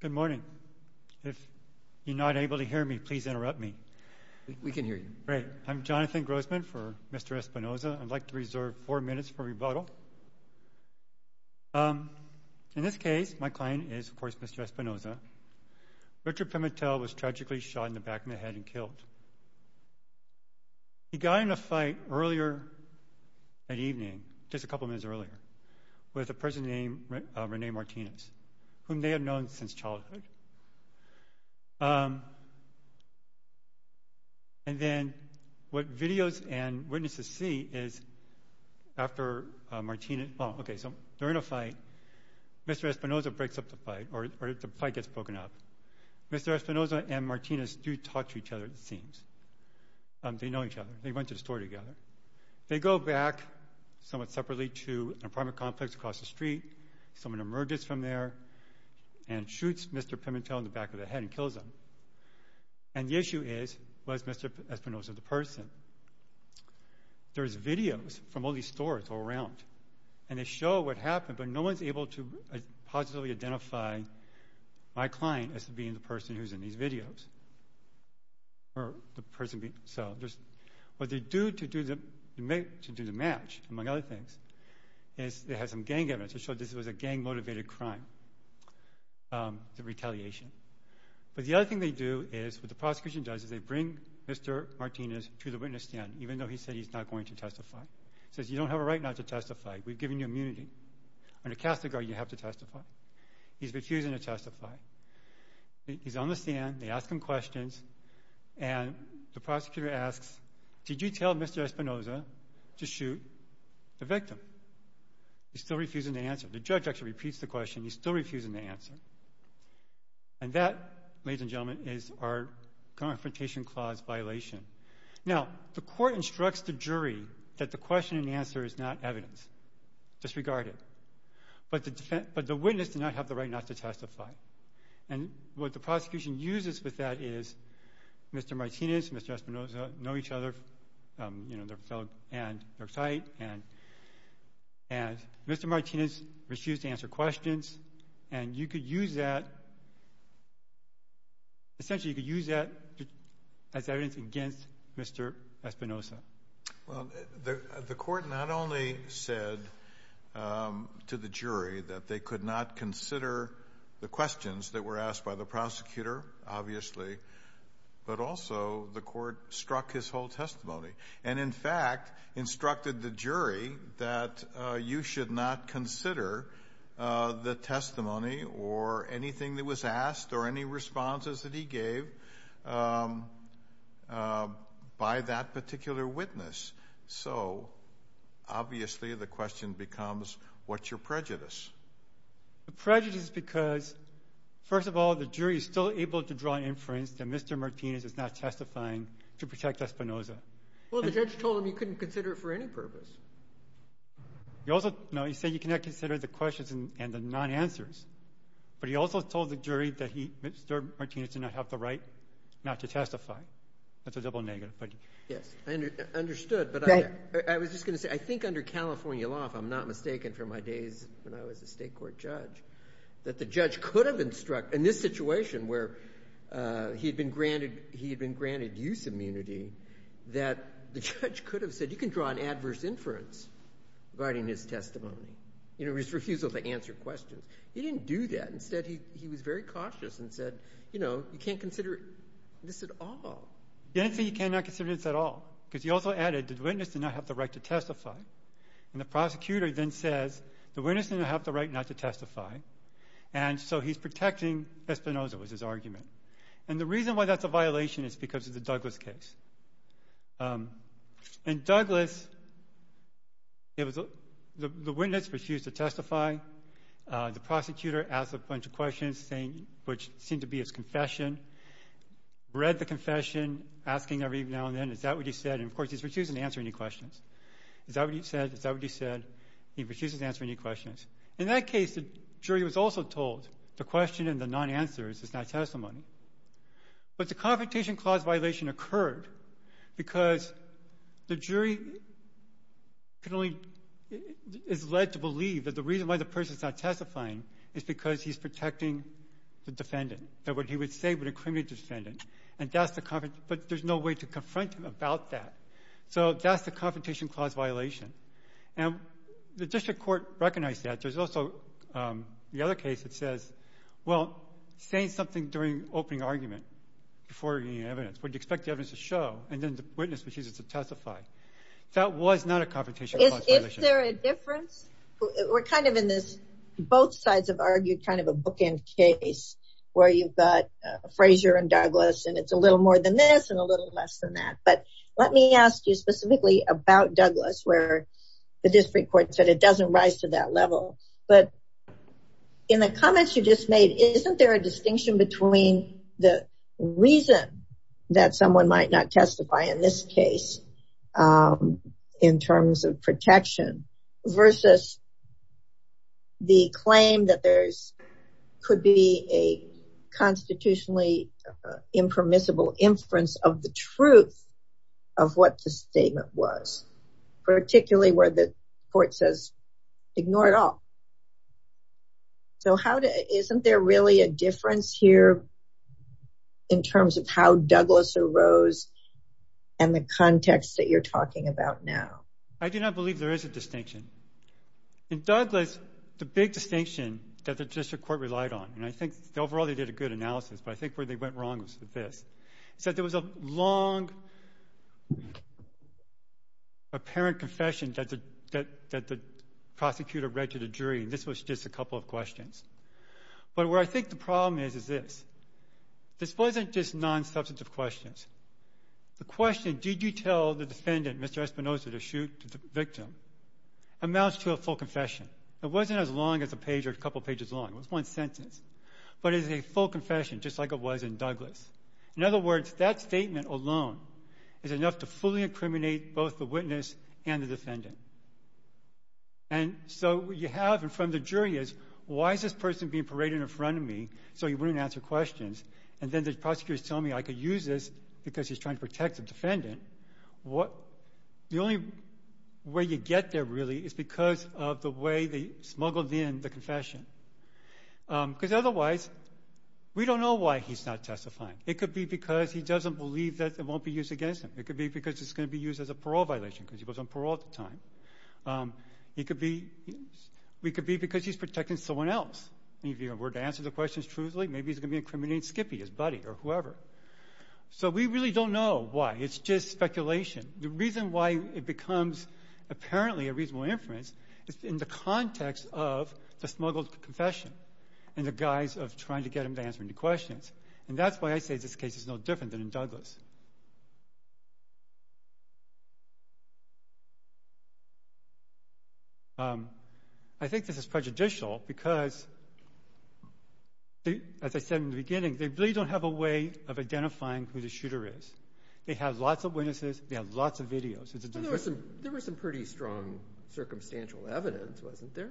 Good morning. If you're not able to hear me, please interrupt me. We can hear you. Great. I'm Jonathan Grossman for Mr. Espinoza. I'd like to reserve four minutes for rebuttal. In this case, my client is, of course, Mr. Espinoza. Richard Pimentel was tragically shot in the back of the head and killed. He got in a fight earlier that evening, just a couple minutes earlier, with a person named Rene Martinez, whom they have known since childhood. And then what videos and witnesses see is after Martinez... Oh, okay, so they're in a fight. Mr. Espinoza breaks up the fight, or the fight gets broken up. Mr. Espinoza and Martinez do talk to each other, it seems. They know each other. They went to the store together. They go back somewhat separately to an apartment complex across the street. Someone emerges from there and shoots Mr. Pimentel in the back of the head and kills him. And the issue is, was Mr. Espinoza the person? There's videos from all these stores all around, and they show what happened, but no one's able to positively identify my client as being the person who's in these videos. What they do to do the match, among other things, is they have some gang evidence to show this was a gang-motivated crime, the retaliation. But the other thing they do is, what the prosecution does, is they bring Mr. Martinez to the witness stand, even though he said he's not going to testify. He says, you don't have a right not to testify. We've given you immunity. Under Catholic law, you have to testify. He's refusing to testify. He's on the stand. They ask him questions. And the prosecutor asks, did you tell Mr. Espinoza to shoot the victim? He's still refusing to answer. The judge actually repeats the question. He's still refusing to answer. And that, ladies and gentlemen, is our Confrontation Clause violation. Now, the court instructs the jury that the question and answer is not evidence, disregarded. But the witness does not have the right not to testify. And what the prosecution uses with that is Mr. Martinez and Mr. Espinoza know each other. You know, they're fellow and they're tight. And Mr. Martinez refused to answer questions. And you could use that. Essentially, you could use that as evidence against Mr. Espinoza. Well, the court not only said to the jury that they could not consider the questions that were asked by the prosecutor, obviously, but also the court struck his whole testimony and, in fact, instructed the jury that you should not consider the testimony or anything that was asked or any responses that he gave by that particular witness. So, obviously, the question becomes, what's your prejudice? The prejudice is because, first of all, the jury is still able to draw inference that Mr. Martinez is not testifying to protect Espinoza. Well, the judge told him he couldn't consider it for any purpose. No, he said you cannot consider the questions and the non-answers. But he also told the jury that Mr. Martinez did not have the right not to testify. That's a double negative. Yes, I understood, but I was just going to say, I think under California law, if I'm not mistaken from my days when I was a state court judge, that the judge could have instructed, in this situation where he had been granted use immunity, that the judge could have said you can draw an adverse inference regarding his testimony, his refusal to answer questions. He didn't do that. Instead, he was very cautious and said, you know, you can't consider this at all. He didn't say you cannot consider this at all because he also added the witness did not have the right to testify, and the prosecutor then says the witness didn't have the right not to testify, and so he's protecting Espinoza was his argument. And the reason why that's a violation is because of the Douglas case. In Douglas, the witness refused to testify. The prosecutor asked a bunch of questions, which seemed to be his confession, read the confession, asking every now and then, is that what he said? And, of course, he's refusing to answer any questions. Is that what he said? Is that what he said? He refuses to answer any questions. In that case, the jury was also told the question and the non-answer is his not testimony. But the Confrontation Clause violation occurred because the jury is led to believe that the reason why the person is not testifying is because he's protecting the defendant, that what he would say would incriminate the defendant. But there's no way to confront him about that. So that's the Confrontation Clause violation. And the district court recognized that. There's also the other case that says, well, say something during opening argument before you get any evidence. Would you expect the evidence to show? And then the witness refuses to testify. That was not a Confrontation Clause violation. Is there a difference? We're kind of in this, both sides have argued, kind of a bookend case where you've got Frazier and Douglas. And it's a little more than this and a little less than that. But let me ask you specifically about Douglas where the district court said it doesn't rise to that level. But in the comments you just made, isn't there a distinction between the reason that someone might not testify in this case in terms of protection versus the claim that there could be a constitutionally impermissible inference of the truth of what the statement was, particularly where the court says, ignore it all. So isn't there really a difference here in terms of how Douglas arose and the context that you're talking about now? I do not believe there is a distinction. In Douglas, the big distinction that the district court relied on, and I think overall they did a good analysis, but I think where they went wrong was with this, is that there was a long apparent confession that the prosecutor read to the jury, and this was just a couple of questions. But where I think the problem is, is this. This wasn't just non-substantive questions. The question, did you tell the defendant, Mr. Espinosa, to shoot the victim, amounts to a full confession. It wasn't as long as a page or a couple pages long. It was one sentence. But it is a full confession, just like it was in Douglas. In other words, that statement alone is enough to fully incriminate both the witness and the defendant. And so what you have in front of the jury is, why is this person being paraded in front of me so he wouldn't answer questions, and then the prosecutor is telling me I could use this because he's trying to protect the defendant. The only way you get there, really, is because of the way they smuggled in the confession. Because otherwise, we don't know why he's not testifying. It could be because he doesn't believe that it won't be used against him. It could be because it's going to be used as a parole violation because he was on parole at the time. It could be because he's protecting someone else. If he were to answer the questions truthfully, maybe he's going to be incriminating Skippy, his buddy or whoever. So we really don't know why. It's just speculation. The reason why it becomes apparently a reasonable inference is in the context of the smuggled confession and the guise of trying to get him to answer any questions. And that's why I say this case is no different than in Douglas. I think this is prejudicial because, as I said in the beginning, they really don't have a way of identifying who the shooter is. They have lots of witnesses. They have lots of videos. There was some pretty strong circumstantial evidence, wasn't there?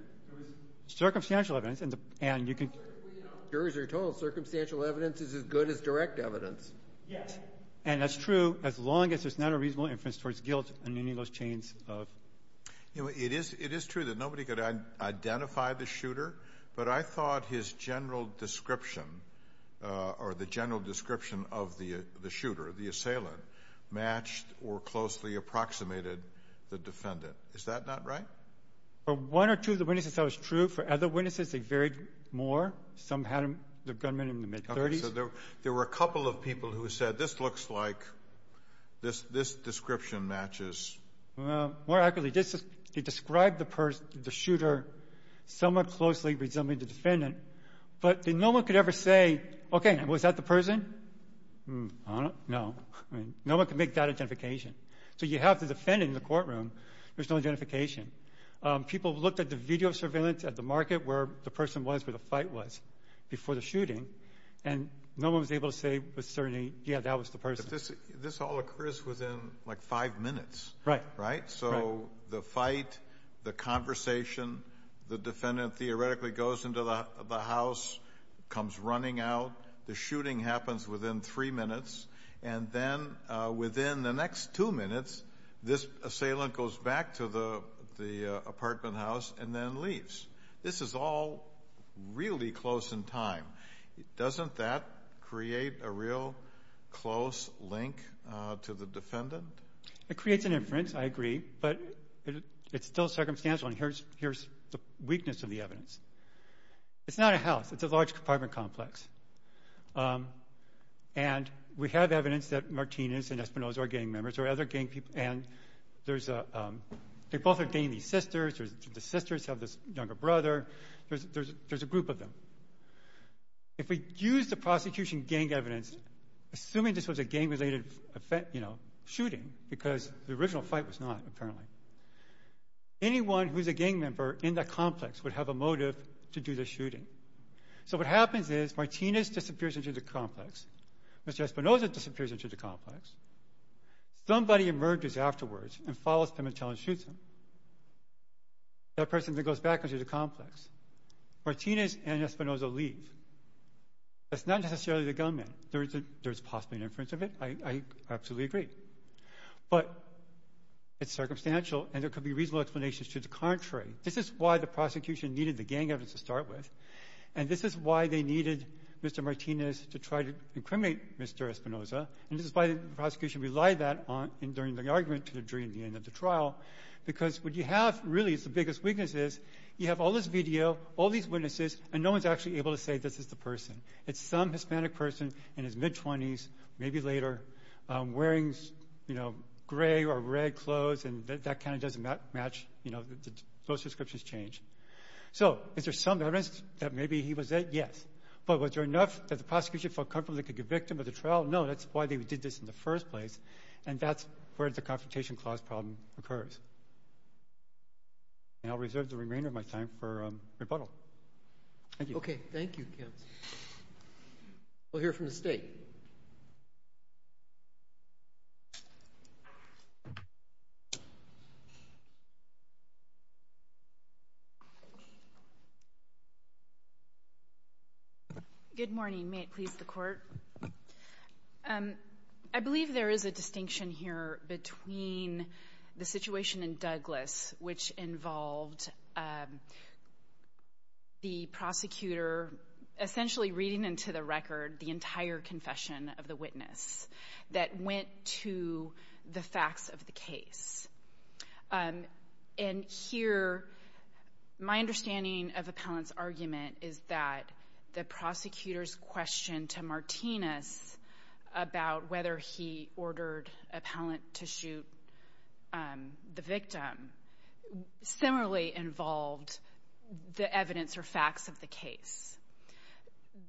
Circumstantial evidence. And you can... Jurors are told circumstantial evidence is as good as direct evidence. Yes. And that's true as long as there's not a reasonable inference towards guilt in any of those chains. It is true that nobody could identify the shooter, but I thought his general description or the general description of the shooter, the assailant, matched or closely approximated the defendant. Is that not right? For one or two of the witnesses, that was true. For other witnesses, they varied more. Some had the gunman in the mid-30s. So there were a couple of people who said this looks like this description matches. More accurately, they described the shooter somewhat closely resembling the defendant, but no one could ever say, okay, was that the person? No. No one could make that identification. So you have the defendant in the courtroom. There's no identification. People looked at the video surveillance at the market where the person was, where the fight was before the shooting, and no one was able to say with certainty, yeah, that was the person. This all occurs within like five minutes, right? Right. So the fight, the conversation, the defendant theoretically goes into the house, comes running out. The shooting happens within three minutes, and then within the next two minutes, this assailant goes back to the apartment house and then leaves. This is all really close in time. Doesn't that create a real close link to the defendant? It creates an inference. I agree. But it's still circumstantial, and here's the weakness of the evidence. It's not a house. It's a large apartment complex. And we have evidence that Martinez and Espinosa are gang members or other gang people, and they both are dating these sisters. The sisters have this younger brother. There's a group of them. If we use the prosecution gang evidence, assuming this was a gang-related shooting, because the original fight was not, apparently, anyone who's a gang member in the complex would have a motive to do the shooting. So what happens is Martinez disappears into the complex. Mr. Espinosa disappears into the complex. Somebody emerges afterwards and follows them and tells them to shoot them. That person then goes back into the complex. Martinez and Espinosa leave. That's not necessarily the gunman. There is possibly an inference of it. I absolutely agree. But it's circumstantial, and there could be reasonable explanations to the contrary. This is why the prosecution needed the gang evidence to start with, and this is why they needed Mr. Martinez to try to incriminate Mr. Espinosa, and this is why the prosecution relied on that during the argument and during the end of the trial, because what you have really is the biggest weakness is you have all this video, all these witnesses, and no one's actually able to say this is the person. It's some Hispanic person in his mid-20s, maybe later, wearing gray or red clothes, and that kind of doesn't match. Those descriptions change. So is there some evidence that maybe he was it? Yes. But was there enough that the prosecution felt comfortable they could convict him of the trial? No. That's why they did this in the first place, and that's where the Confrontation Clause problem occurs. And I'll reserve the remainder of my time for rebuttal. Thank you. Okay. Thank you, counsel. We'll hear from the State. Good morning. May it please the Court. I believe there is a distinction here between the situation in Douglas, which involved the prosecutor essentially reading into the record the entire confession of the witness that went to the facts of the case. And here, my understanding of Appellant's argument is that the prosecutor's question to Martinez about whether he ordered Appellant to shoot the victim similarly involved the evidence or facts of the case.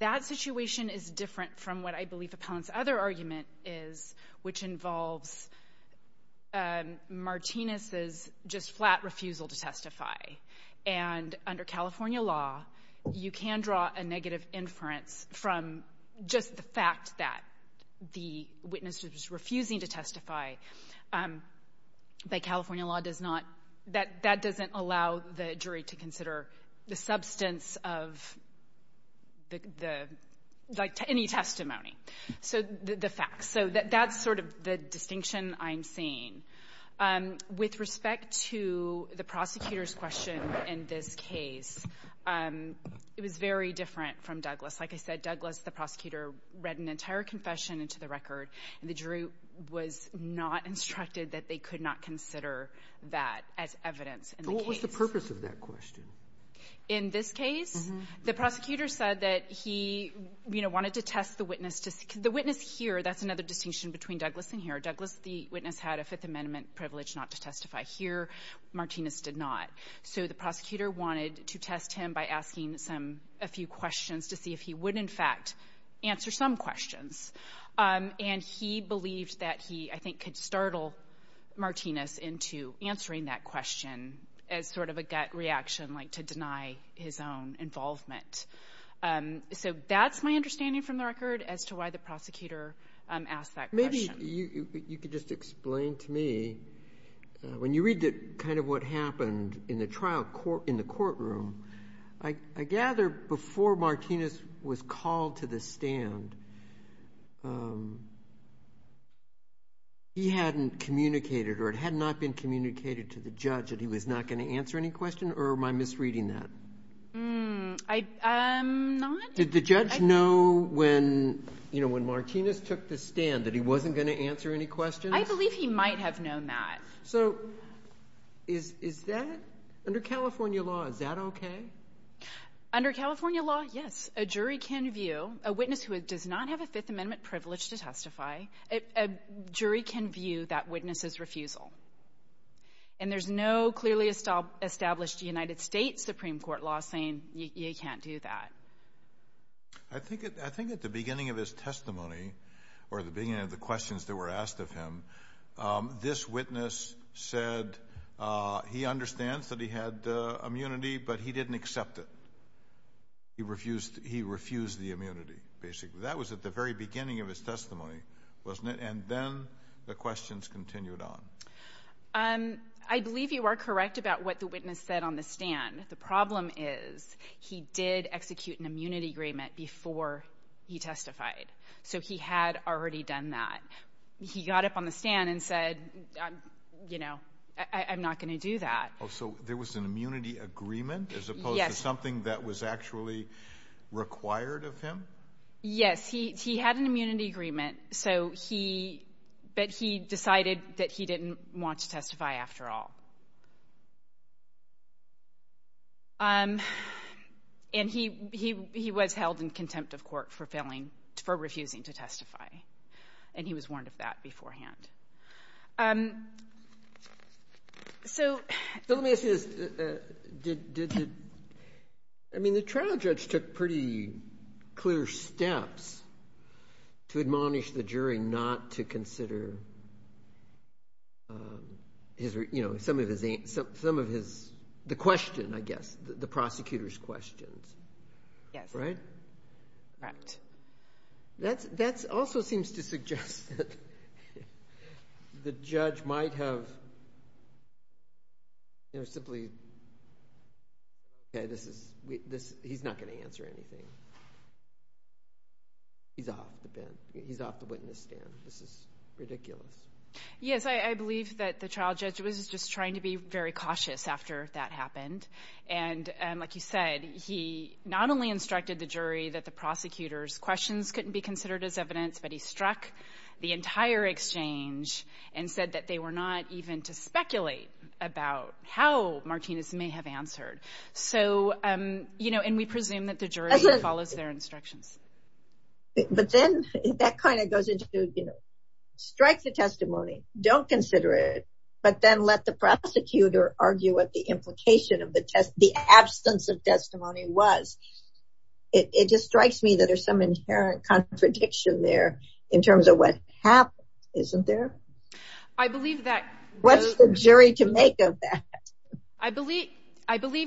That situation is different from what I believe Appellant's other argument is, which involves Martinez's just flat refusal to testify. And under California law, you can draw a negative inference from just the fact that the witness was refusing to testify. By California law, that doesn't allow the jury to consider the substance of any testimony, the facts. So that's sort of the distinction I'm seeing. With respect to the prosecutor's question in this case, it was very different from Douglas. Like I said, Douglas, the prosecutor, read an entire confession into the record, and the jury was not instructed that they could not consider that as evidence in the case. Roberts. So what was the purpose of that question? In this case, the prosecutor said that he wanted to test the witness. The witness here, that's another distinction between Douglas and here. Douglas, the witness, had a Fifth Amendment privilege not to testify. Here, Martinez did not. So the prosecutor wanted to test him by asking a few questions to see if he would, in fact, answer some questions. And he believed that he, I think, could startle Martinez into answering that question as sort of a gut reaction, like to deny his own involvement. So that's my understanding from the record as to why the prosecutor asked that question. Maybe you could just explain to me, when you read kind of what happened in the courtroom, I gather before Martinez was called to the stand, he hadn't communicated or it had not been communicated to the judge that he was not going to answer any question, or am I misreading that? I'm not. Did the judge know when Martinez took the stand that he wasn't going to answer any questions? I believe he might have known that. So is that, under California law, is that okay? Under California law, yes. A jury can view, a witness who does not have a Fifth Amendment privilege to testify, a jury can view that witness's refusal. And there's no clearly established United States Supreme Court law saying you can't do that. I think at the beginning of his testimony, or at the beginning of the questions that were asked of him, this witness said he understands that he had immunity, but he didn't accept it. He refused the immunity, basically. That was at the very beginning of his testimony, wasn't it? And then the questions continued on. I believe you are correct about what the witness said on the stand. The problem is he did execute an immunity agreement before he testified, so he had already done that. He got up on the stand and said, you know, I'm not going to do that. Oh, so there was an immunity agreement as opposed to something that was actually required of him? Yes, he had an immunity agreement, but he decided that he didn't want to testify after all. And he was held in contempt of court for refusing to testify, and he was warned of that beforehand. So let me ask you this. I mean, the trial judge took pretty clear steps to admonish the jury not to consider, you know, some of the question, I guess, the prosecutor's questions. Yes. Right? Correct. That also seems to suggest that the judge might have, you know, simply, okay, he's not going to answer anything. He's off the witness stand. This is ridiculous. Yes, I believe that the trial judge was just trying to be very cautious after that happened. And like you said, he not only instructed the jury that the prosecutor's questions couldn't be considered as evidence, but he struck the entire exchange and said that they were not even to speculate about how Martinez may have answered. So, you know, and we presume that the jury follows their instructions. But then that kind of goes into, you know, strike the testimony, don't consider it, but then let the prosecutor argue what the implication of the absence of testimony was. It just strikes me that there's some inherent contradiction there in terms of what happened, isn't there? I believe that. What's the jury to make of that? I believe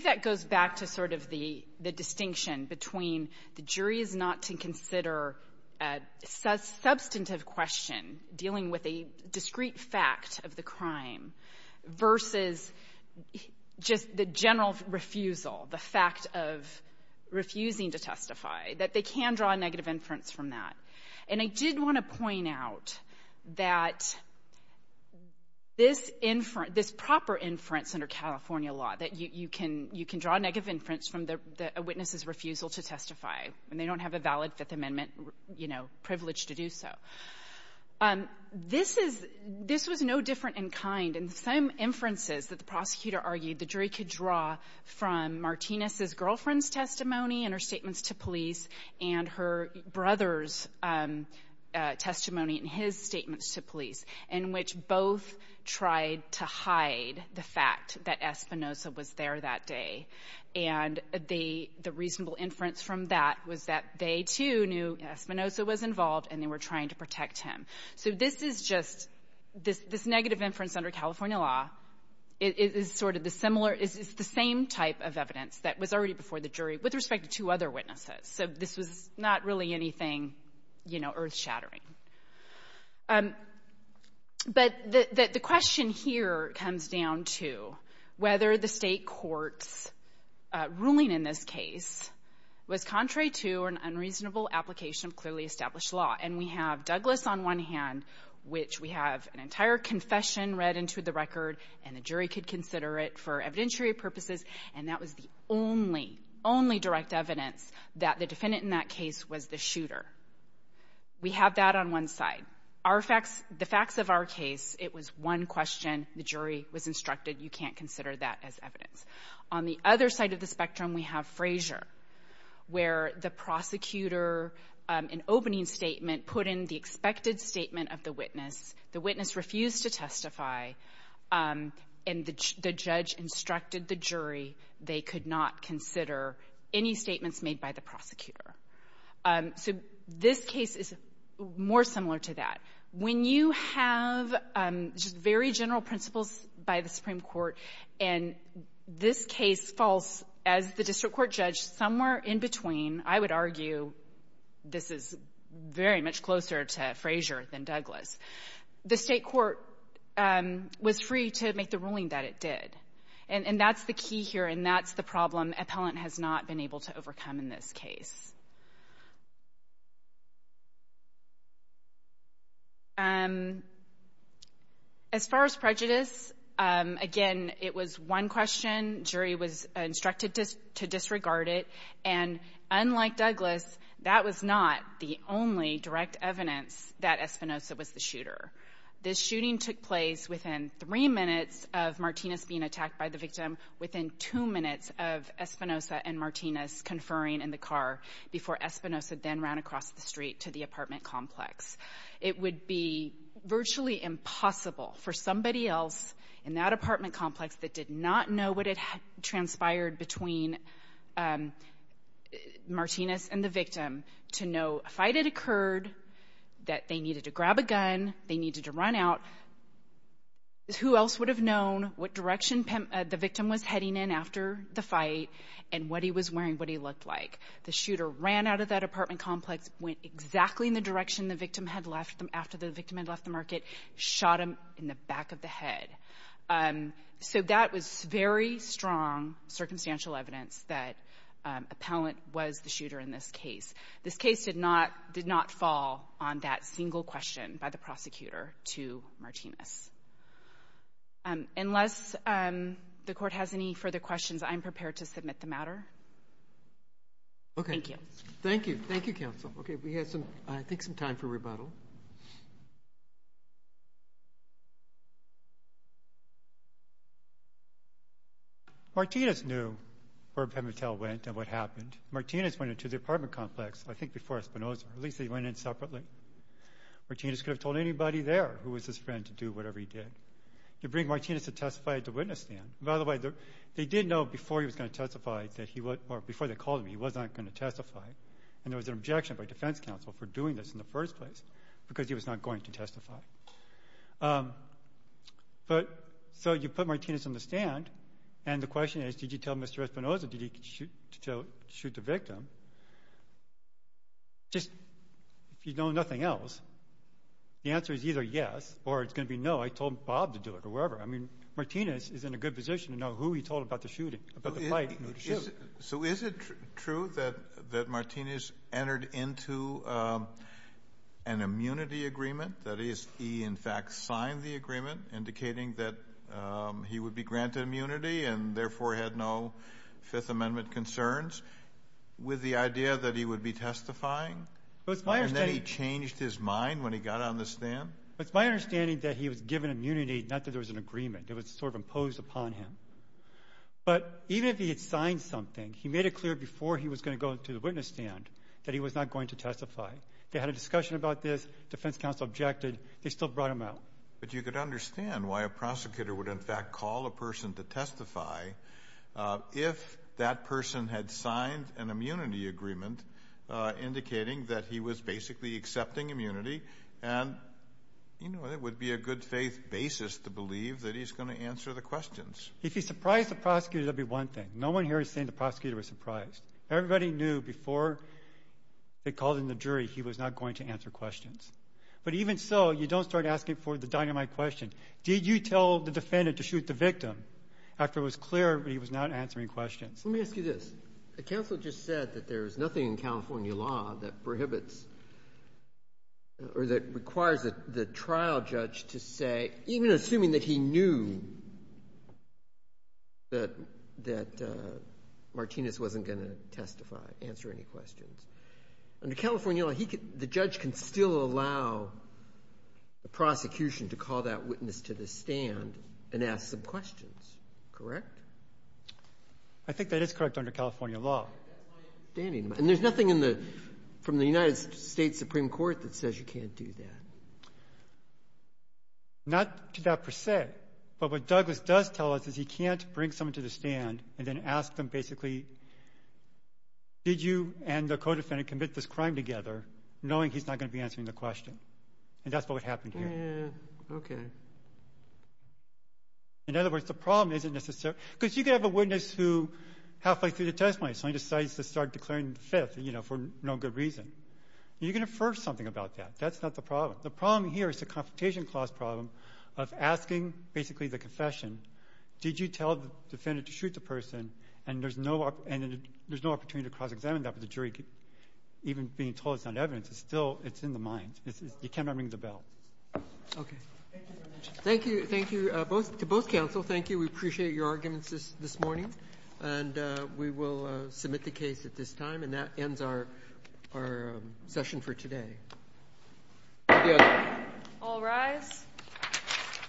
that goes back to sort of the distinction between the jury is not to consider a substantive question dealing with a discrete fact of the crime versus just the general refusal, the fact of refusing to testify, that they can draw a negative inference from that. And I did want to point out that this proper inference under California law, that you can draw a negative inference from a witness's refusal to testify when they don't have a valid Fifth Amendment, you know, privilege to do so. This is no different in kind. In some inferences that the prosecutor argued, the jury could draw from Martinez's girlfriend's testimony and her statements to police and her brother's testimony and his statements to police, in which both tried to hide the fact that Espinosa was there that day. And the reasonable inference from that was that they, too, knew Espinosa was involved and they were trying to protect him. So this is just — this negative inference under California law is sort of the similar — is the same type of evidence that was already before the jury with respect to two other witnesses. So this was not really anything, you know, earth-shattering. But the question here comes down to whether the State court's ruling in this case was contrary to an unreasonable application of clearly established law. And we have Douglas on one hand, which we have an entire confession read into the record, and the jury could consider it for evidentiary purposes. And that was the only, only direct evidence that the defendant in that case was the shooter. We have that on one side. Our facts — the facts of our case, it was one question. The jury was instructed, you can't consider that as evidence. On the other side of the spectrum, we have Frazier, where the prosecutor, an opening statement put in the expected statement of the witness. The witness refused to testify. And the judge instructed the jury they could not consider any statements made by the prosecutor. So this case is more similar to that. When you have very general principles by the Supreme Court, and this case falls, as the district court judged, somewhere in between, I would argue this is very much closer to Frazier than Douglas. The State court was free to make the ruling that it did. And that's the key here, and that's the problem appellant has not been able to overcome in this case. As far as prejudice, again, it was one question. Jury was instructed to disregard it. And unlike Douglas, that was not the only direct evidence that Espinosa was the shooter. This shooting took place within three minutes of Martinez being attacked by the victim, within two minutes of Espinosa and Martinez conferring in the car, before Espinosa then ran across the street to the apartment complex. It would be virtually impossible for somebody else in that apartment complex that did not know what had transpired between Martinez and the victim to know a fight had occurred, that they needed to grab a gun, they needed to run out. Who else would have known what direction the victim was heading in after the fight and what he was wearing, what he looked like? The shooter ran out of that apartment complex, went exactly in the direction the victim had left him after the victim had left the market, shot him in the back of the head. So that was very strong circumstantial evidence that appellant was the shooter in this case. This case did not fall on that single question by the prosecutor to Martinez. Unless the Court has any further questions, I'm prepared to submit the matter. Okay. Thank you. Thank you. Thank you, counsel. Okay, we have, I think, some time for rebuttal. Martinez knew where Pimitel went and what happened. Martinez went into the apartment complex, I think, before Espinosa. At least they went in separately. Martinez could have told anybody there who was his friend to do whatever he did. You bring Martinez to testify at the witness stand. By the way, they did know before he was going to testify, or before they called him, he was not going to testify, and there was an objection by defense counsel for doing this in the first place because he was not going to testify. So you put Martinez on the stand, and the question is, did you tell Mr. Espinosa to shoot the victim? If you know nothing else, the answer is either yes or it's going to be no. I told Bob to do it or wherever. I mean, Martinez is in a good position to know who he told about the shooting, about the fight, and who to shoot. So is it true that Martinez entered into an immunity agreement? That is, he, in fact, signed the agreement indicating that he would be granted immunity and therefore had no Fifth Amendment concerns with the idea that he would be testifying? And then he changed his mind when he got on the stand? It's my understanding that he was given immunity, not that there was an agreement. It was sort of imposed upon him. But even if he had signed something, he made it clear before he was going to go to the witness stand that he was not going to testify. They had a discussion about this. Defense counsel objected. They still brought him out. But you could understand why a prosecutor would, in fact, call a person to testify if that person had signed an immunity agreement indicating that he was basically accepting immunity and, you know, it would be a good faith basis to believe that he's going to answer the questions. If he surprised the prosecutor, that would be one thing. No one here is saying the prosecutor was surprised. Everybody knew before they called in the jury he was not going to answer questions. But even so, you don't start asking for the dynamite question. Did you tell the defendant to shoot the victim after it was clear that he was not answering questions? Let me ask you this. The counsel just said that there is nothing in California law that prohibits or that requires the trial judge to say, even assuming that he knew that Martinez wasn't going to testify, answer any questions. Under California law, the judge can still allow the prosecution to call that witness to the stand and ask some questions, correct? I think that is correct under California law. And there's nothing from the United States Supreme Court that says you can't do that. Not to that per se. But what Douglas does tell us is he can't bring someone to the stand and then ask them basically, did you and the co-defendant commit this crime together, knowing he's not going to be answering the question. And that's what would happen here. Okay. In other words, the problem isn't necessarily because you could have a witness who halfway through the testimony suddenly decides to start declaring fifth for no good reason. You can infer something about that. That's not the problem. The problem here is the Confrontation Clause problem of asking basically the confession, did you tell the defendant to shoot the person? And there's no opportunity to cross-examine that with the jury. Even being told it's not evidence, it's still in the mind. You cannot ring the bell. Okay. Thank you very much. Thank you. To both counsel, thank you. We appreciate your arguments this morning. And we will submit the case at this time. And that ends our session for today. All rise.